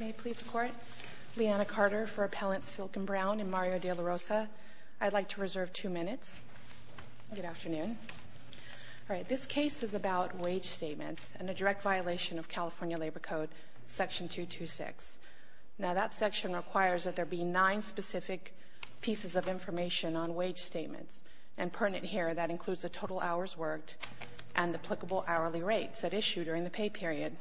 May I please report? Leanna Carter for Appellant Silken Brown in Mario de la Rosa. I'd like to reserve two minutes. Good afternoon. All right, this case is about wage statements and a direct violation of California Labor Code Section 226. Now, that section requires that there be nine specific pieces of information on wage statements. And pertinent here, that includes the total hours worked and applicable hourly rates at issue during the pay period.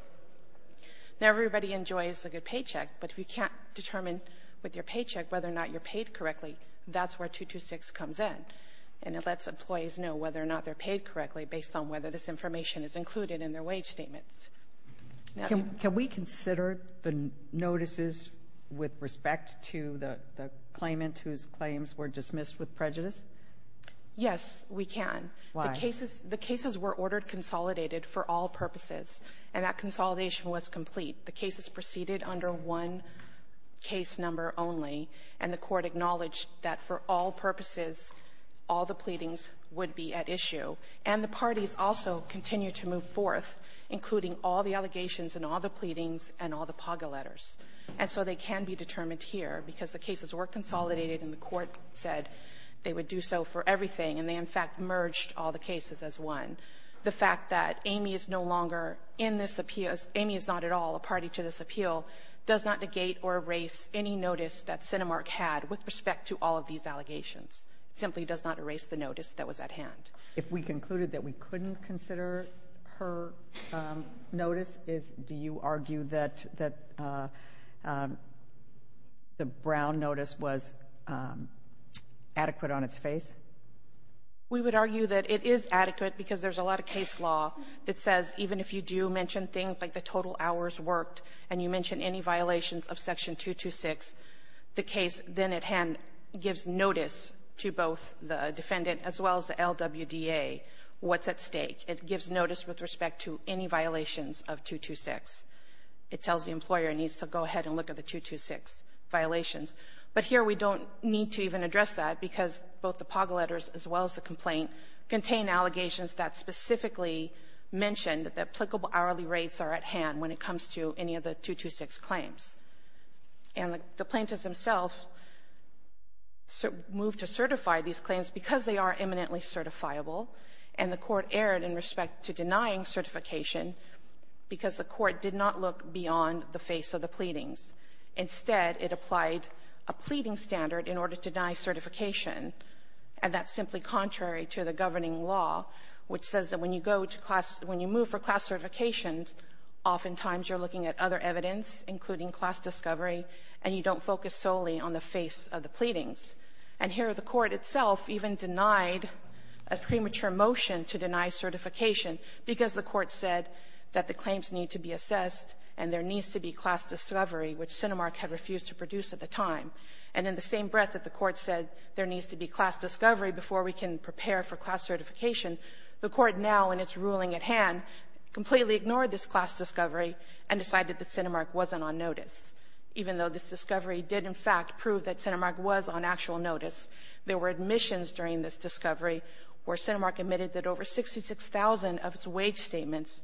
Now, everybody enjoys a good paycheck, but if you can't determine with your paycheck whether or not you're paid correctly, that's where 226 comes in. And it lets employees know whether or not they're paid correctly based on whether this information is included in their wage statements. Can we consider the notices with respect to the claimant whose claims were dismissed with prejudice? Yes, we can. Why? The cases were ordered consolidated for all purposes. And that consolidation was complete. The cases proceeded under one case number only. And the Court acknowledged that for all purposes, all the pleadings would be at issue. And the parties also continued to move forth, including all the allegations and all the pleadings and all the PAGA letters. And so they can be determined here because the cases were consolidated and the Court said they would do so for everything. And they, in fact, merged all the cases as one. The fact that Amy is no longer in this appeal, Amy is not at all a party to this appeal, does not negate or erase any notice that Cinemark had with respect to all of these allegations. It simply does not erase the notice that was at hand. If we concluded that we couldn't consider her notice, do you argue that the Brown notice was adequate on its face? We would argue that it is adequate because there's a lot of case law that says even if you do mention things like the total hours worked and you mention any violations of Section 226, the case then at hand gives notice to both the defendant as well as the LWDA what's at stake. It gives notice with respect to any violations of 226. It tells the employer it needs to go ahead and look at the 226 violations. But here we don't need to even address that because both the POG letters as well as the complaint contain allegations that specifically mention that the applicable hourly rates are at hand when it comes to any of the 226 claims. And the plaintiffs themselves moved to certify these claims because they are eminently certifiable, and the Court erred in respect to denying certification because the Court did not look beyond the face of the pleadings. Instead, it applied a pleading standard in order to deny certification, and that's simply contrary to the governing law, which says that when you go to class — when you move for class certifications, oftentimes you're looking at other evidence, including class discovery, and you don't focus solely on the face of the pleadings. And here the Court itself even denied a premature motion to deny certification because the Court said that the claims need to be produced at the time. And in the same breath that the Court said there needs to be class discovery before we can prepare for class certification, the Court now in its ruling at hand completely ignored this class discovery and decided that CentiMark wasn't on notice. Even though this discovery did, in fact, prove that CentiMark was on actual notice, there were admissions during this discovery where CentiMark admitted that over 66,000 of its wage statements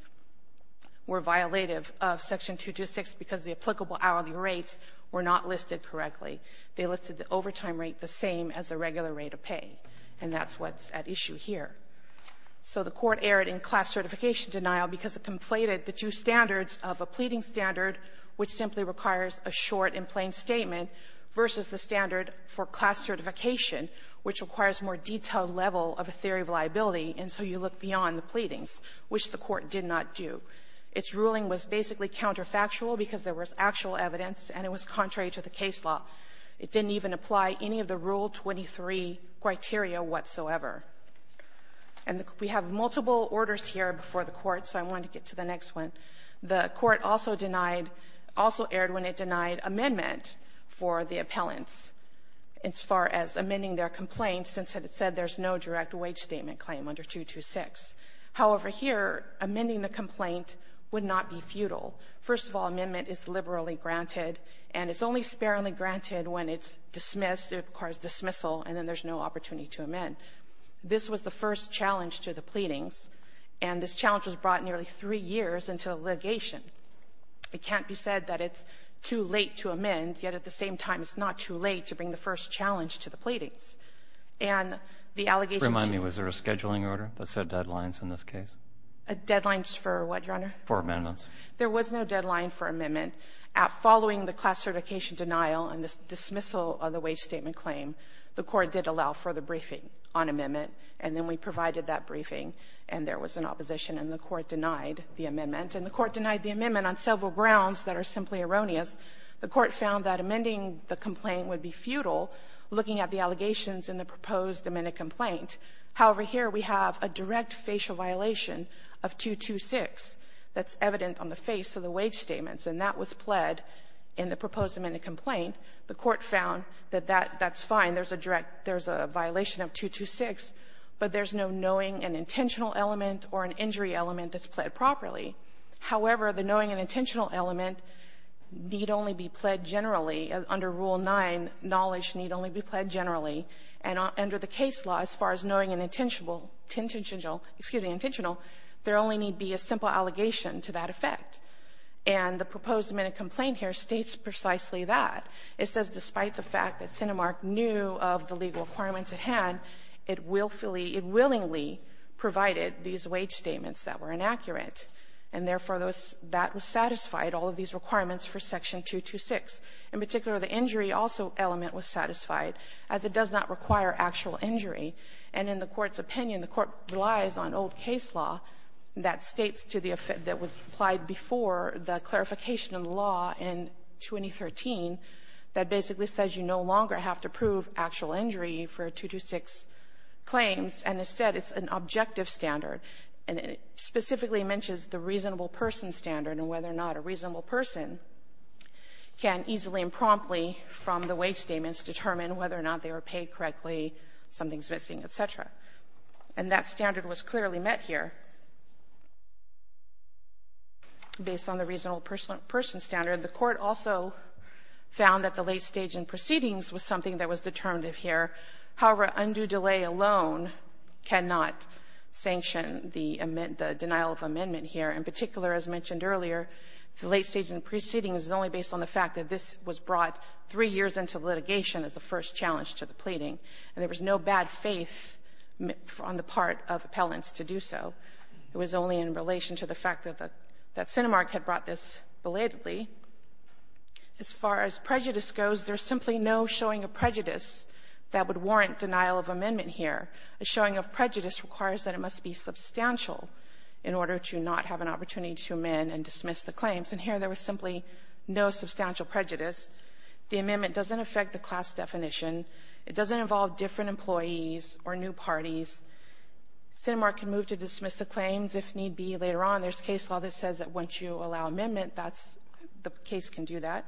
were violative of Section 226 because the applicable hourly rates were not listed correctly. They listed the overtime rate the same as the regular rate of pay, and that's what's at issue here. So the Court erred in class certification denial because it conflated the two standards of a pleading standard, which simply requires a short and plain statement, versus the standard for class certification, which requires a more detailed level of a theory of liability, and so you look beyond the pleadings, which the Court did not do. Its ruling was basically counterfactual because there was actual evidence and it was contrary to the case law. It didn't even apply any of the Rule 23 criteria whatsoever. And we have multiple orders here before the Court, so I wanted to get to the next one. The Court also denied, also erred when it denied amendment for the appellants as far as amending their complaint since it said there's no direct wage statement claim under 226. However, here, amending the complaint would not be futile. First of all, amendment is liberally granted, and it's only sparingly granted when it's dismissed, it requires dismissal, and then there's no opportunity to amend. This was the first challenge to the pleadings, and this challenge was brought nearly three years into litigation. It can't be said that it's too late to amend, yet at the same time, it's not too late to bring the first challenge to the pleadings. And the allegations... Remind me, was there a scheduling order that set deadlines in this case? Deadlines for what, Your Honor? For amendments. There was no deadline for amendment. Following the class certification denial and the dismissal of the wage statement claim, the Court did allow further briefing on amendment, and then we provided that briefing, and there was an opposition, and the Court denied the amendment. And the Court denied the amendment on several grounds that are simply erroneous. The Court found that amending the complaint would be futile, looking at the allegations in the proposed amended complaint. However, here we have a direct facial violation of 226 that's evident on the face of the wage statements, and that was pled in the proposed amended complaint. The Court found that that's fine, there's a direct, there's a violation of 226, but there's no knowing and intentional element or an injury element that's pled properly. However, the knowing and intentional element need only be pled generally. Under Rule 9, knowledge need only be pled generally. And under the case law, as far as knowing and intentional, there only need be a simple allegation to that effect. And the proposed amended complaint here states precisely that. It says, despite the fact that Cinemark knew of the legal requirements at hand, it willfully, it willingly provided these wage statements that were inaccurate. And therefore, that was satisfied, all of these requirements for Section 226. In particular, the injury also element was satisfied, as it does not require actual injury. And in the Court's opinion, the Court relies on old case law that states to the effect that was applied before the clarification of the law in 2013, that basically says you no longer have to prove actual injury for 226 claims. And instead, it's an objective standard. And it specifically mentions the reasonable person standard and whether or not a reasonable person can easily and promptly from the wage statements determine whether or not they were paid correctly, something's missing, et cetera. And that standard was clearly met here based on the reasonable person standard. The Court also found that the late stage in proceedings was something that was determinative here. However, undue delay alone cannot sanction the denial of amendment here. In particular, as mentioned earlier, the late stage in proceedings is only based on the fact that this was brought three years into litigation as the first challenge to the pleading. And there was no bad faith on the part of appellants to do so. It was only in relation to the fact that the — that Sinemark had brought this belatedly. As far as prejudice goes, there's simply no showing of prejudice that would warrant denial of amendment here. A showing of prejudice requires that it must be substantial in order to not have an opportunity to amend and dismiss the claims. And here, there was simply no substantial prejudice. The amendment doesn't affect the class definition. It doesn't involve different employees or new parties. Sinemark can move to dismiss the claims if need be later on. There's a case law that says that once you allow amendment, that's — the case can do that.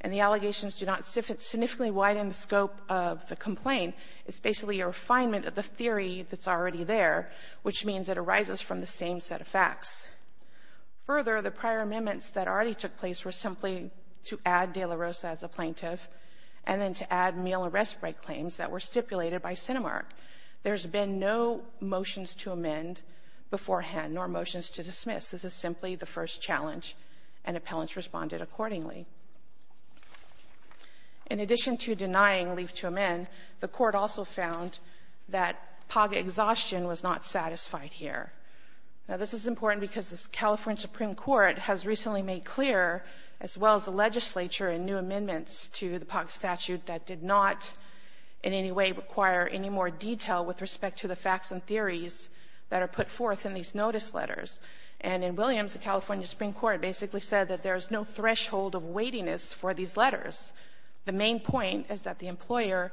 And the allegations do not significantly widen the scope of the complaint. It's basically a refinement of the theory that's already there, which means it arises from the same set of facts. Further, the prior amendments that already took place were simply to add de la Rosa as a plaintiff and then to add meal arrest break claims that were stipulated by Sinemark. There's been no motions to amend beforehand nor motions to dismiss. This is simply the first challenge, and appellants responded accordingly. In addition to denying leave to amend, the court also found that POG exhaustion was not satisfied here. Now, this is important because the California Supreme Court has recently made clear, as well as the legislature, in new amendments to the POG statute that did not in any way require any more detail with respect to the facts and theories that are put forth in these notice letters. And in Williams, the California Supreme Court basically said that there's no threshold of weightiness for these letters. The main point is that the employer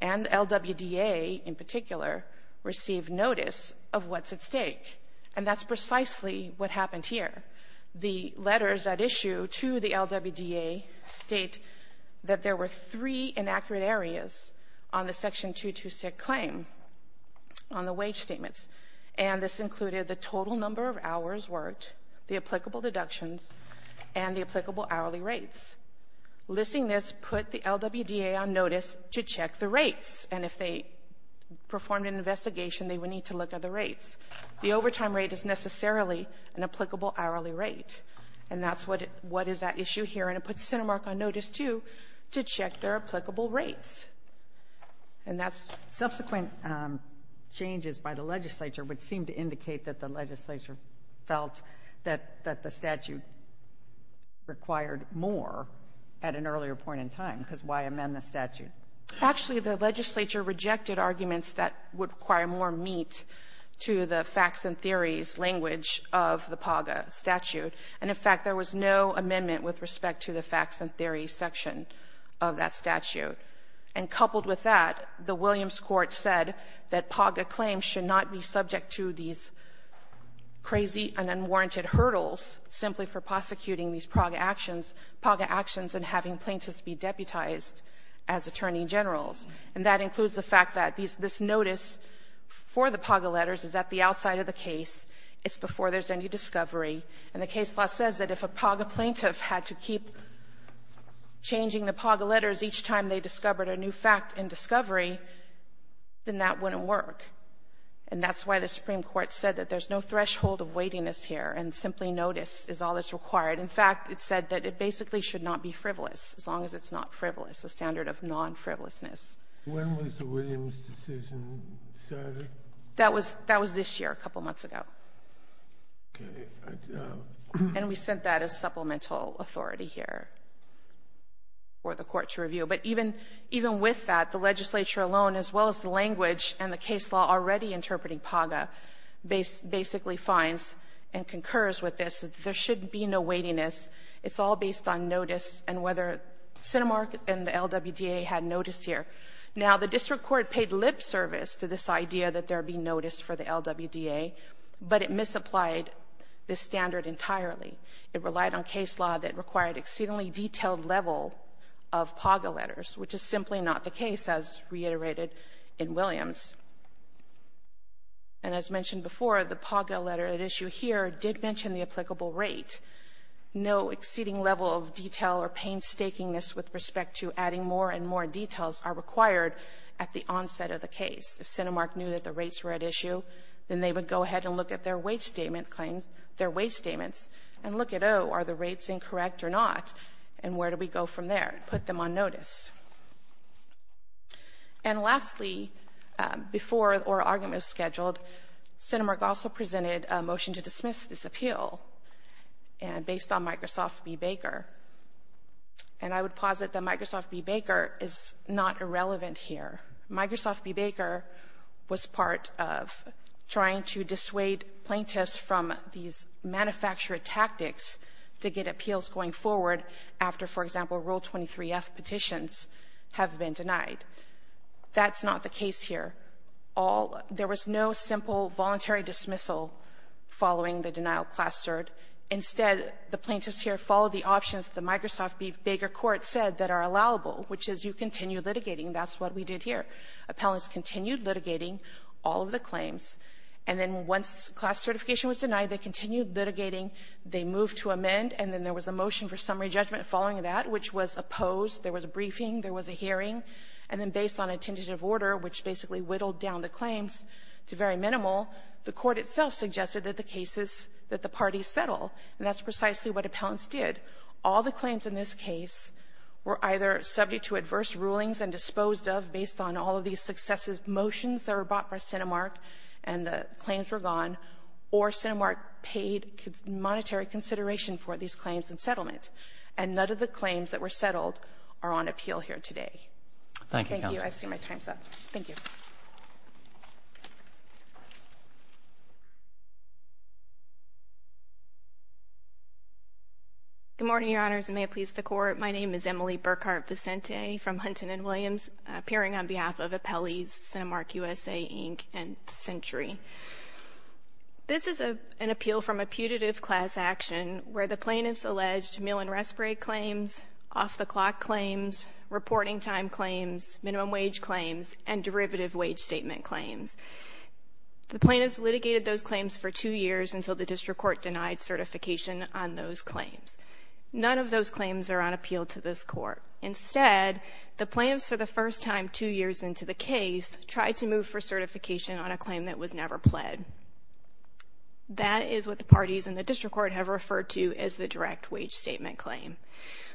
and LWDA in particular received notice of what's at stake. And that's precisely what happened here. The letters that issue to the LWDA state that there were three inaccurate areas on the section 226 claim on the wage statements. And this included the total number of hours worked, the applicable deductions, and the applicable hourly rates. Listing this put the LWDA on notice to check the rates. And if they performed an investigation, they would need to look at the rates. The overtime rate is necessarily an applicable hourly rate. And that's what is at issue here. And it puts CentiMark on notice, too, to check their applicable rates. And that's subsequent changes by the legislature would seem to indicate that the legislature felt that the statute required more at an earlier point in time because why amend the statute? Actually, the legislature rejected arguments that would require more meat to the facts and theories language of the POG statute. And, in fact, there was no amendment with respect to the facts and theories section of that statute. And coupled with that, the Williams Court said that POGA claims should not be subject to these crazy and unwarranted hurdles simply for prosecuting these POGA actions and having plaintiffs be deputized as attorney generals. And that includes the fact that this notice for the POGA letters is at the outside of the case. It's before there's any discovery. And the case law says that if a POGA plaintiff had to keep changing the POGA letters each time they discovered a new fact in discovery, then that wouldn't work. And that's why the Supreme Court said that there's no threshold of weightiness here and simply notice is all that's required. In fact, it said that it basically should not be frivolous as long as it's not frivolous, a standard of non-frivolousness. When was the Williams decision decided? That was this year, a couple months ago. And we sent that as supplemental authority here for the court to review. But even with that, the legislature alone, as well as the language and the case law already interpreting POGA, basically finds and concurs with this. There should be no weightiness. It's all based on notice and whether Cinemark and the LWDA had notice here. Now, the district court paid lip service to this idea that there be notice for the LWDA, but it misapplied this standard entirely. It relied on case law that required exceedingly detailed level of POGA letters, which is simply not the case, as reiterated in Williams. And as mentioned before, the POGA letter at issue here did mention the applicable rate, no exceeding level of detail or painstakingness with respect to adding more details are required at the onset of the case. If Cinemark knew that the rates were at issue, then they would go ahead and look at their wage statements and look at, oh, are the rates incorrect or not, and where do we go from there? Put them on notice. And lastly, before oral arguments scheduled, Cinemark also presented a motion to dismiss this appeal based on Microsoft v. Baker. And I would posit that Microsoft v. Baker is not irrelevant here. Microsoft v. Baker was part of trying to dissuade plaintiffs from these manufacturer tactics to get appeals going forward after, for example, Rule 23F petitions have been denied. That's not the case here. There was no simple voluntary dismissal following the denial clustered. Instead, the plaintiffs here followed the options that the Microsoft v. Baker court said that are allowable, which is you continue litigating. That's what we did here. Appellants continued litigating all of the claims. And then once class certification was denied, they continued litigating. They moved to amend. And then there was a motion for summary judgment following that, which was opposed. There was a briefing. There was a hearing. And then based on a tentative order, which basically whittled down the claims to very minimal, the court itself suggested that the cases that the parties settle. And that's precisely what appellants did. All the claims in this case were either subject to adverse rulings and disposed of based on all of these successive motions that were bought by Cinemark and the claims were gone, or Cinemark paid monetary consideration for these claims and settlement. And none of the claims that were settled are on appeal here today. Roberts. Thank you, counsel. Thank you. I see my time's up. Thank you. Good morning, Your Honors, and may it please the Court. My name is Emily Burkhart-Vicente from Hunton and Williams, appearing on behalf of Appellees, Cinemark USA, Inc., and Century. This is an appeal from a putative class action where the plaintiffs alleged meal and respite claims, off-the-clock claims, reporting time claims, minimum wage claims, and derivative wage statement claims. The plaintiffs litigated those claims for two years until the district court denied certification on those claims. None of those claims are on appeal to this court. Instead, the plaintiffs, for the first time two years into the case, tried to move for certification on a claim that was never pled. That is what the parties in the district court have referred to as the direct wage statement claim.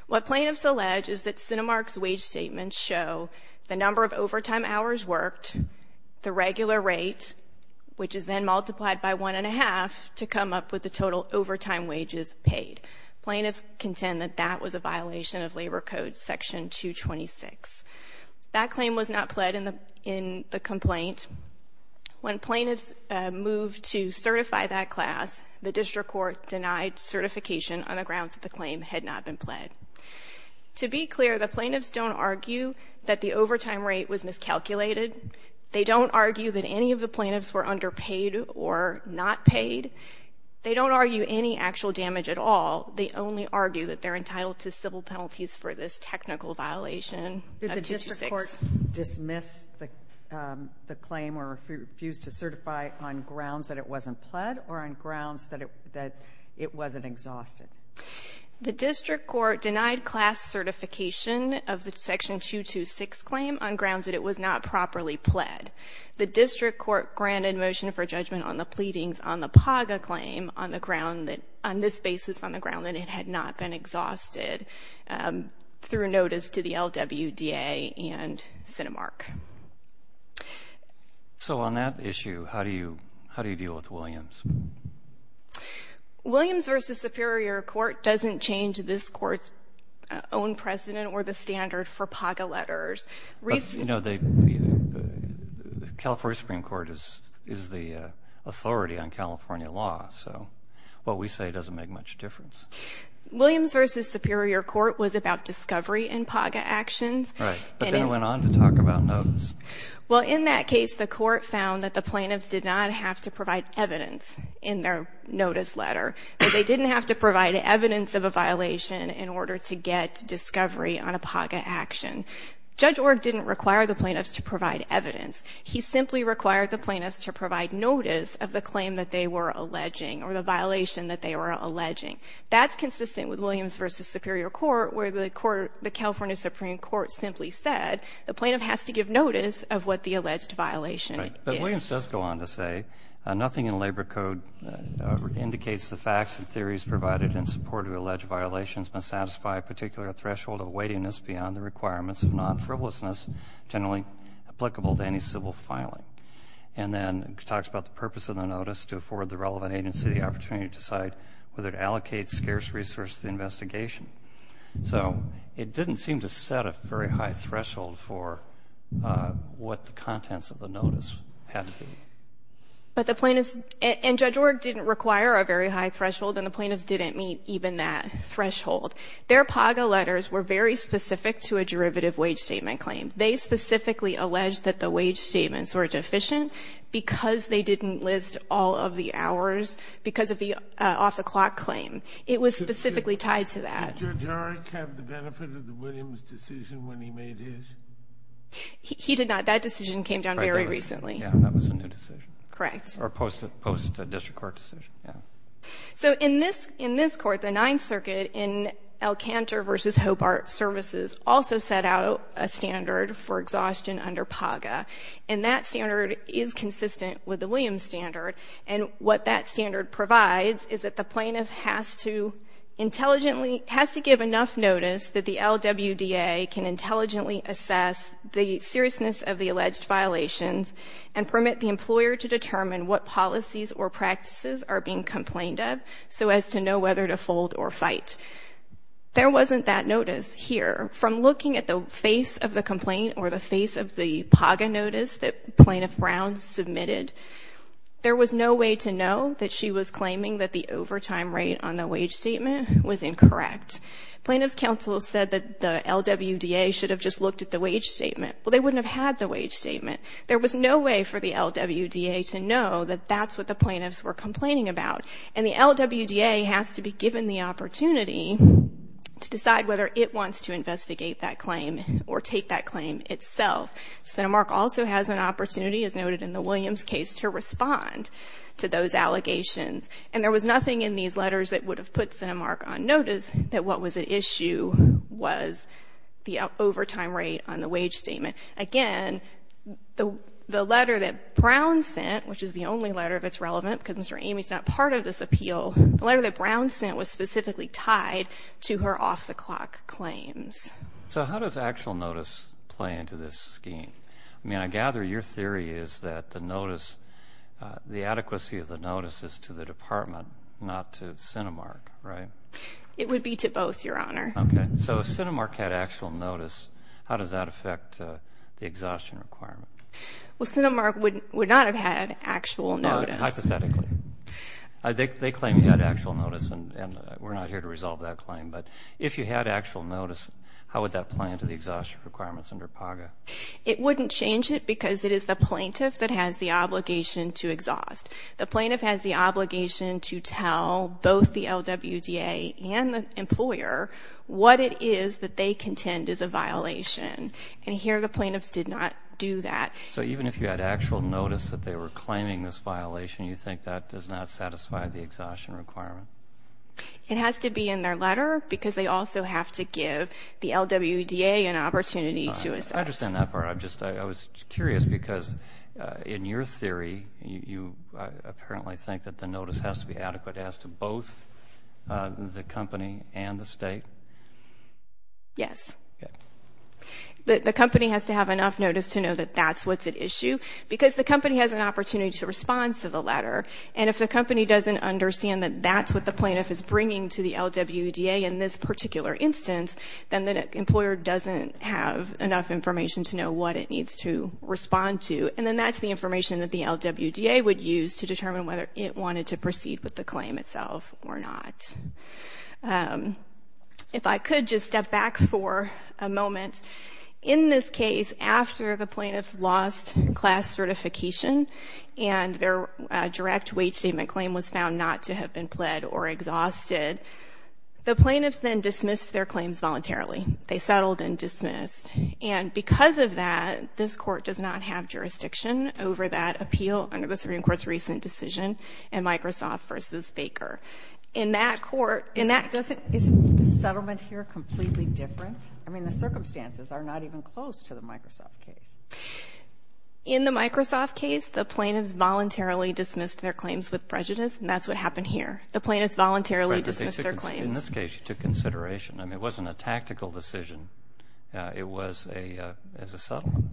What plaintiffs allege is that Cinemark's wage statements show the number of overtime hours worked, the regular rate, which is then multiplied by one and a half to come up with the total overtime wages paid. Plaintiffs contend that that was a violation of Labor Code Section 226. That claim was not pled in the complaint. When plaintiffs moved to certify that class, the district court denied certification on the grounds that the claim had not been pled. To be clear, the plaintiffs don't argue that the overtime rate was miscalculated. They don't argue that any of the plaintiffs were underpaid or not paid. They don't argue any actual damage at all. They only argue that they're entitled to civil penalties for this technical violation of 226. Did the district court dismiss the claim or refuse to certify on grounds that it wasn't exhausted? The district court denied class certification of the Section 226 claim on grounds that it was not properly pled. The district court granted motion for judgment on the pleadings on the PAGA claim on this basis on the ground that it had not been exhausted through notice to the LWDA and Cinemark. So on that issue, how do you deal with Williams? Williams v. Superior Court doesn't change this court's own precedent or the standard for PAGA letters. You know, the California Supreme Court is the authority on California law, so what we say doesn't make much difference. Williams v. Superior Court was about discovery in PAGA actions. Right. But then it went on to talk about notice. Well, in that case, the court found that the plaintiffs did not have to provide evidence in their notice letter. They didn't have to provide evidence of a violation in order to get discovery on a PAGA action. Judge Org didn't require the plaintiffs to provide evidence. He simply required the plaintiffs to provide notice of the claim that they were alleging or the violation that they were alleging. That's consistent with Williams v. Superior Court, where the California Supreme Court simply said the plaintiff has to give notice of what the alleged violation is. Williams does go on to say, nothing in labor code indicates the facts and theories provided in support of alleged violations must satisfy a particular threshold of weightiness beyond the requirements of non-frivolousness generally applicable to any civil filing. And then it talks about the purpose of the notice, to afford the relevant agency the opportunity to decide whether to allocate scarce resources to the investigation. So it didn't seem to set a very high threshold for what the contents of the But the plaintiffs, and Judge Org didn't require a very high threshold, and the plaintiffs didn't meet even that threshold. Their PAGA letters were very specific to a derivative wage statement claim. They specifically alleged that the wage statements were deficient because they didn't list all of the hours because of the off-the-clock claim. It was specifically tied to that. Did Judge Org have the benefit of the Williams decision when he made his? He did not. That decision came down very recently. Yeah, that was a new decision. Correct. Or post-district court decision, yeah. So in this court, the Ninth Circuit in El Cantor v. Hobart Services also set out a standard for exhaustion under PAGA. And that standard is consistent with the Williams standard. And what that standard provides is that the plaintiff has to intelligently, has to give enough notice that the LWDA can intelligently assess the seriousness of the alleged violations and permit the employer to determine what policies or practices are being complained of so as to know whether to fold or fight. There wasn't that notice here. From looking at the face of the complaint or the face of the PAGA notice that Plaintiff Brown submitted, there was no way to know that she was claiming that the overtime rate on the wage statement was incorrect. Plaintiff's counsel said that the LWDA should have just looked at the wage statement. Well, they wouldn't have had the wage statement. There was no way for the LWDA to know that that's what the plaintiffs were complaining about. And the LWDA has to be given the opportunity to decide whether it wants to investigate that claim or take that claim itself. CentiMark also has an opportunity, as noted in the Williams case, to respond to those allegations. And there was nothing in these letters that would have put CentiMark on notice that what was at issue was the overtime rate on the wage statement. Again, the letter that Brown sent, which is the only letter that's relevant because Mr. Amy is not part of this appeal, the letter that Brown sent was specifically tied to her off-the-clock claims. So how does actual notice play into this scheme? I mean, I gather your theory is that the notice, the adequacy of the notice is to the department, not to CentiMark, right? It would be to both, Your Honor. Okay. So if CentiMark had actual notice, how does that affect the exhaustion requirement? Well, CentiMark would not have had actual notice. Hypothetically. They claim you had actual notice, and we're not here to resolve that claim. But if you had actual notice, how would that play into the exhaustion requirements under PAGA? It wouldn't change it because it is the plaintiff that has the obligation to exhaust. The plaintiff has the obligation to tell both the LWDA and the employer what it is that they contend is a violation. And here the plaintiffs did not do that. So even if you had actual notice that they were claiming this violation, you think that does not satisfy the exhaustion requirement? It has to be in their letter because they also have to give the LWDA an opportunity to assess. I understand that part. I was curious because in your theory, you apparently think that the notice has to be adequate as to both the company and the state? Yes. Okay. The company has to have enough notice to know that that's what's at issue because the company has an opportunity to respond to the letter. And if the company doesn't understand that that's what the plaintiff is bringing to the LWDA in this particular instance, then the employer doesn't have enough information to know what it needs to respond to. And then that's the information that the LWDA would use to determine whether it wanted to proceed with the claim itself or not. If I could just step back for a moment. In this case, after the plaintiffs lost class certification and their direct wage statement claim was found not to have been pled or exhausted, the plaintiffs then dismissed their claims voluntarily. They settled and dismissed. And because of that, this court does not have jurisdiction over that appeal under the Supreme Court's recent decision in Microsoft v. Baker. Isn't the settlement here completely different? I mean, the circumstances are not even close to the Microsoft case. In the Microsoft case, the plaintiffs voluntarily dismissed their claims with prejudice, and that's what happened here. The plaintiffs voluntarily dismissed their claims. In this case, you took consideration. I mean, it wasn't a tactical decision. It was as a settlement.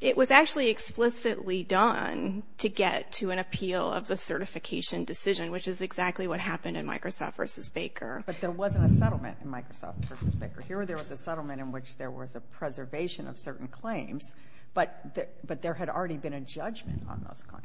It was actually explicitly done to get to an appeal of the certification decision, which is exactly what happened in Microsoft v. Baker. But there wasn't a settlement in Microsoft v. Baker. Here there was a settlement in which there was a preservation of certain claims, but there had already been a judgment on those claims.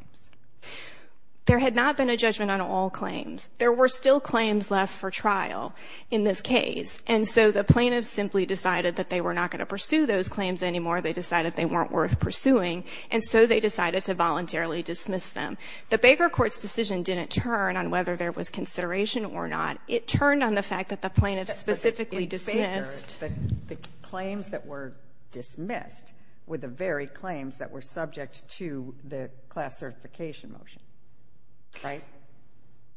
There had not been a judgment on all claims. There were still claims left for trial in this case, and so the plaintiffs simply decided that they were not going to pursue those claims anymore. They decided they weren't worth pursuing, and so they decided to voluntarily dismiss them. The Baker court's decision didn't turn on whether there was consideration or not. It turned on the fact that the plaintiffs specifically dismissed. But in Baker, the claims that were dismissed were the very claims that were subject to the class certification motion, right?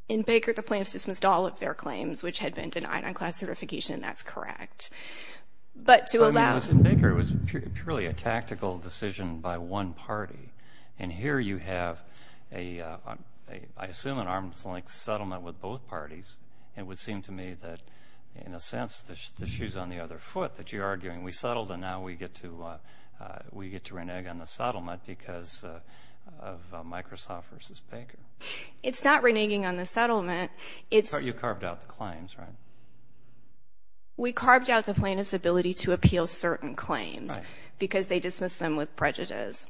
In Baker, the plaintiffs dismissed all of their claims, which had been denied on class certification, and that's correct. But to allow... I mean, it was in Baker. It was purely a tactical decision by one party, and here you have a, I assume, an arm's length settlement with both parties. It would seem to me that, in a sense, the shoe's on the other foot that you're arguing. We settled, and now we get to renege on the settlement because of Microsoft v. Baker. It's not reneging on the settlement. It's... You carved out the claims, right? We carved out the plaintiff's ability to appeal certain claims because they dismissed them with prejudice.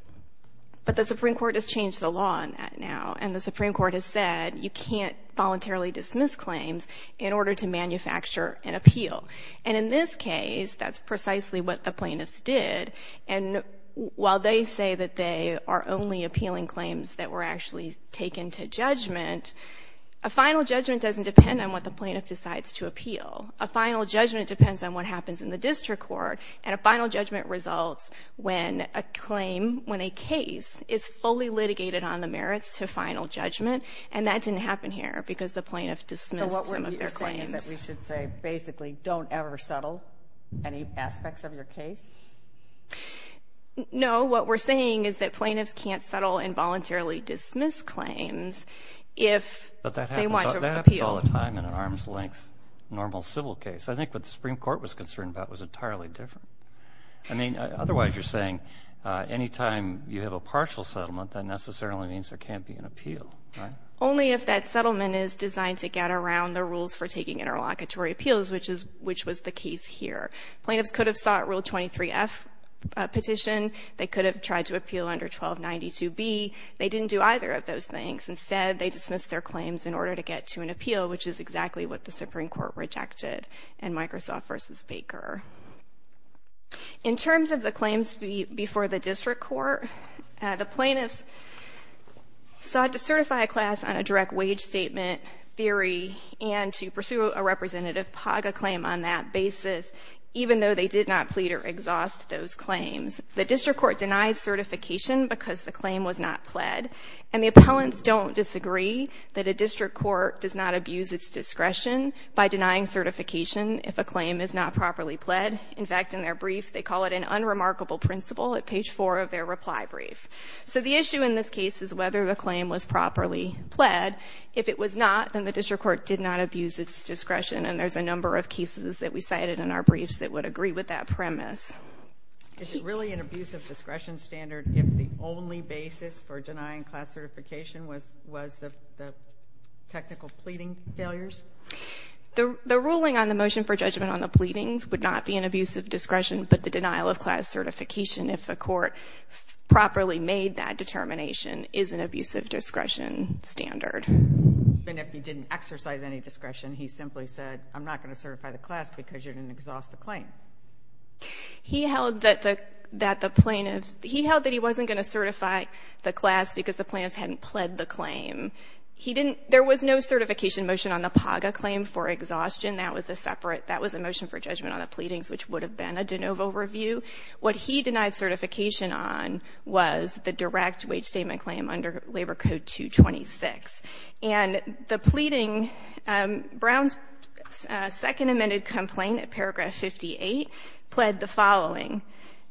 But the Supreme Court has changed the law on that now, and the Supreme Court has said you can't voluntarily dismiss claims in order to manufacture an appeal. And in this case, that's precisely what the plaintiffs did, and while they say that they are only appealing claims that were actually taken to judgment, a final judgment doesn't depend on what the plaintiff decides to appeal. A final judgment depends on what happens in the district court, and a final judgment results when a claim, when a case is fully litigated on the merits to final judgment, and that didn't happen here because the plaintiff dismissed some of their claims. So what we're saying is that we should say, basically, don't ever settle any aspects of your case? No. What we're saying is that plaintiffs can't settle and voluntarily dismiss claims if they want to appeal. But that happens all the time in an arm's length normal civil case. I think what the Supreme Court was concerned about was entirely different. I mean, otherwise you're saying any time you have a partial settlement, that necessarily means there can't be an appeal, right? Only if that settlement is designed to get around the rules for taking interlocutory appeals, which was the case here. Plaintiffs could have sought Rule 23F petition. They could have tried to appeal under 1292B. They didn't do either of those things. Instead, they dismissed their claims in order to get to an appeal, which is exactly what the Supreme Court rejected in Microsoft v. Baker. In terms of the claims before the district court, the plaintiffs sought to certify a class on a direct wage statement theory and to pursue a representative PAGA claim on that basis, even though they did not plead or exhaust those claims. The district court denied certification because the claim was not pled. And the appellants don't disagree that a district court does not abuse its discretion by denying certification if a claim is not properly pled. In fact, in their brief, they call it an unremarkable principle at page 4 of their reply brief. So the issue in this case is whether the claim was properly pled. If it was not, then the district court did not abuse its discretion. And there's a number of cases that we cited in our briefs that would agree with that premise. Is it really an abusive discretion standard if the only basis for denying class certification was the technical pleading failures? The ruling on the motion for judgment on the pleadings would not be an abusive discretion, but the denial of class certification if the court properly made that determination is an abusive discretion standard. And if he didn't exercise any discretion, he simply said, I'm not going to certify the class because you didn't exhaust the claim. He held that the plaintiffs, he held that he wasn't going to certify the class because the plaintiffs hadn't pled the claim. He didn't, there was no certification motion on the PAGA claim for exhaustion. That was a separate, that was a motion for judgment on the pleadings, which would have been a de novo review. What he denied certification on was the direct wage statement claim under Labor Code 226. And the pleading, Brown's second amended complaint at paragraph 58 pled the following.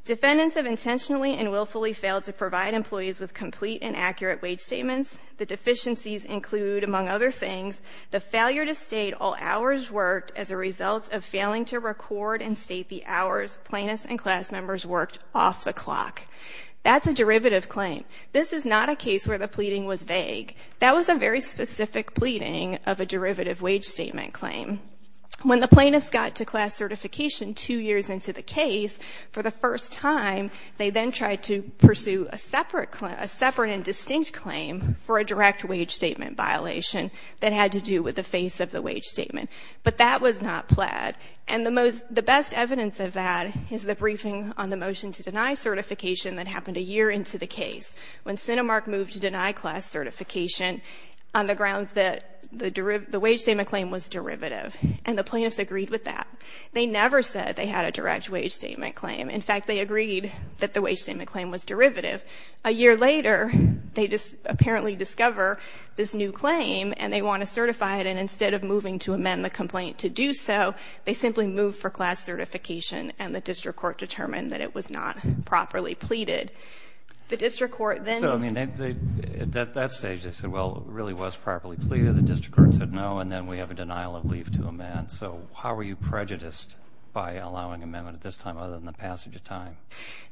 Defendants have intentionally and willfully failed to provide employees with complete and accurate wage statements. The deficiencies include among other things, the failure to state all hours worked as a result of failing to record and state the hours plaintiffs and class members worked off the clock. That's a derivative claim. This is not a case where the pleading was vague. That was a very specific pleading of a derivative wage statement claim. When the plaintiffs got to class certification two years into the case for the first time, they then tried to pursue a separate, a separate and distinct claim for a direct wage statement violation that had to do with the face of the wage statement. But that was not pled. And the most, the best evidence of that is the briefing on the motion to deny certification that happened a year into the case. When Cinemark moved to deny class certification on the grounds that the derivative, the wage statement claim was derivative and the plaintiffs agreed with that. They never said they had a direct wage statement claim. In fact, they agreed that the wage statement claim was derivative. A year later, they just apparently discover this new claim and they want to certify it. And instead of moving to amend the complaint to do so, they simply moved for class certification and the district court determined that it was not properly pleaded. The district court then. So, I mean, at that stage, they said, well, it really was properly pleaded. The district court said no. And then we have a denial of leave to amend. So how were you prejudiced by allowing amendment at this time, other than the passage of time?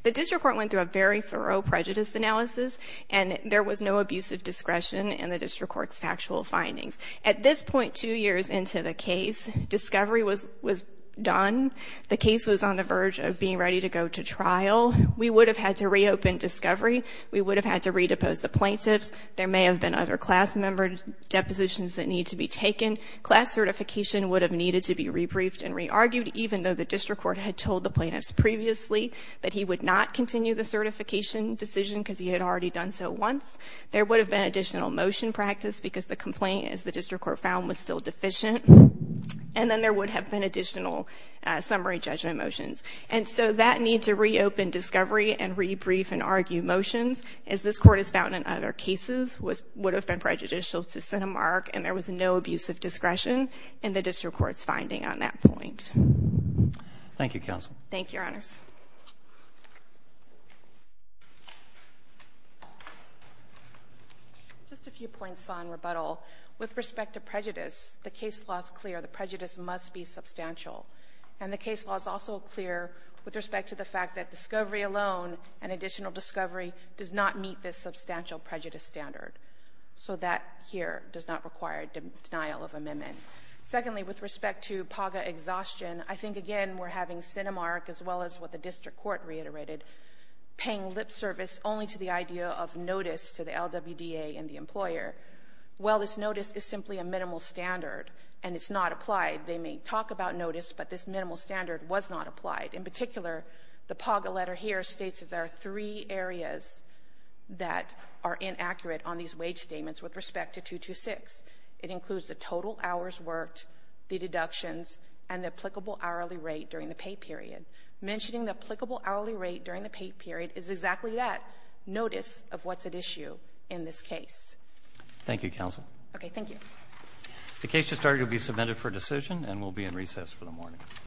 The district court went through a very thorough prejudice analysis and there was no abusive discretion in the district court's factual findings. At this point, two years into the case discovery was, was done. The case was on the verge of being ready to go to trial. We would have had to reopen discovery. We would have had to re-depose the plaintiffs. There may have been other class member depositions that need to be taken. Class certification would have needed to be re-briefed and re-argued, even though the district court had told the plaintiffs previously that he would not continue the certification decision because he had already done so once. There would have been additional motion practice because the complaint, as the district court found, was still deficient. And then there would have been additional summary judgment motions. And so that need to reopen discovery and re-brief and argue motions, as this Court has found in other cases, would have been prejudicial to set a mark and there was no abusive discretion in the district court's finding on that point. Thank you, counsel. Thank you, Your Honors. Just a few points on rebuttal. With respect to prejudice, the case law is clear. The prejudice must be substantial. And the case law is also clear with respect to the fact that discovery alone and additional discovery does not meet this substantial prejudice standard. So that here does not require denial of amendment. Secondly, with respect to PAGA exhaustion, I think, again, we're having Cinemark, as well as what the district court reiterated, paying lip service only to the idea of notice to the LWDA and the employer. Well, this notice is simply a minimal standard and it's not applied. They may talk about notice, but this minimal standard was not applied. In particular, the PAGA letter here states that there are three areas that are inaccurate on these wage statements with respect to 226. It includes the total hours worked, the deductions, and the applicable hourly rate during the pay period. Mentioning the applicable hourly rate during the pay period is exactly that, notice of what's at issue in this case. Thank you, counsel. Okay. Thank you. The case has started to be submitted for decision and will be in recess for the morning.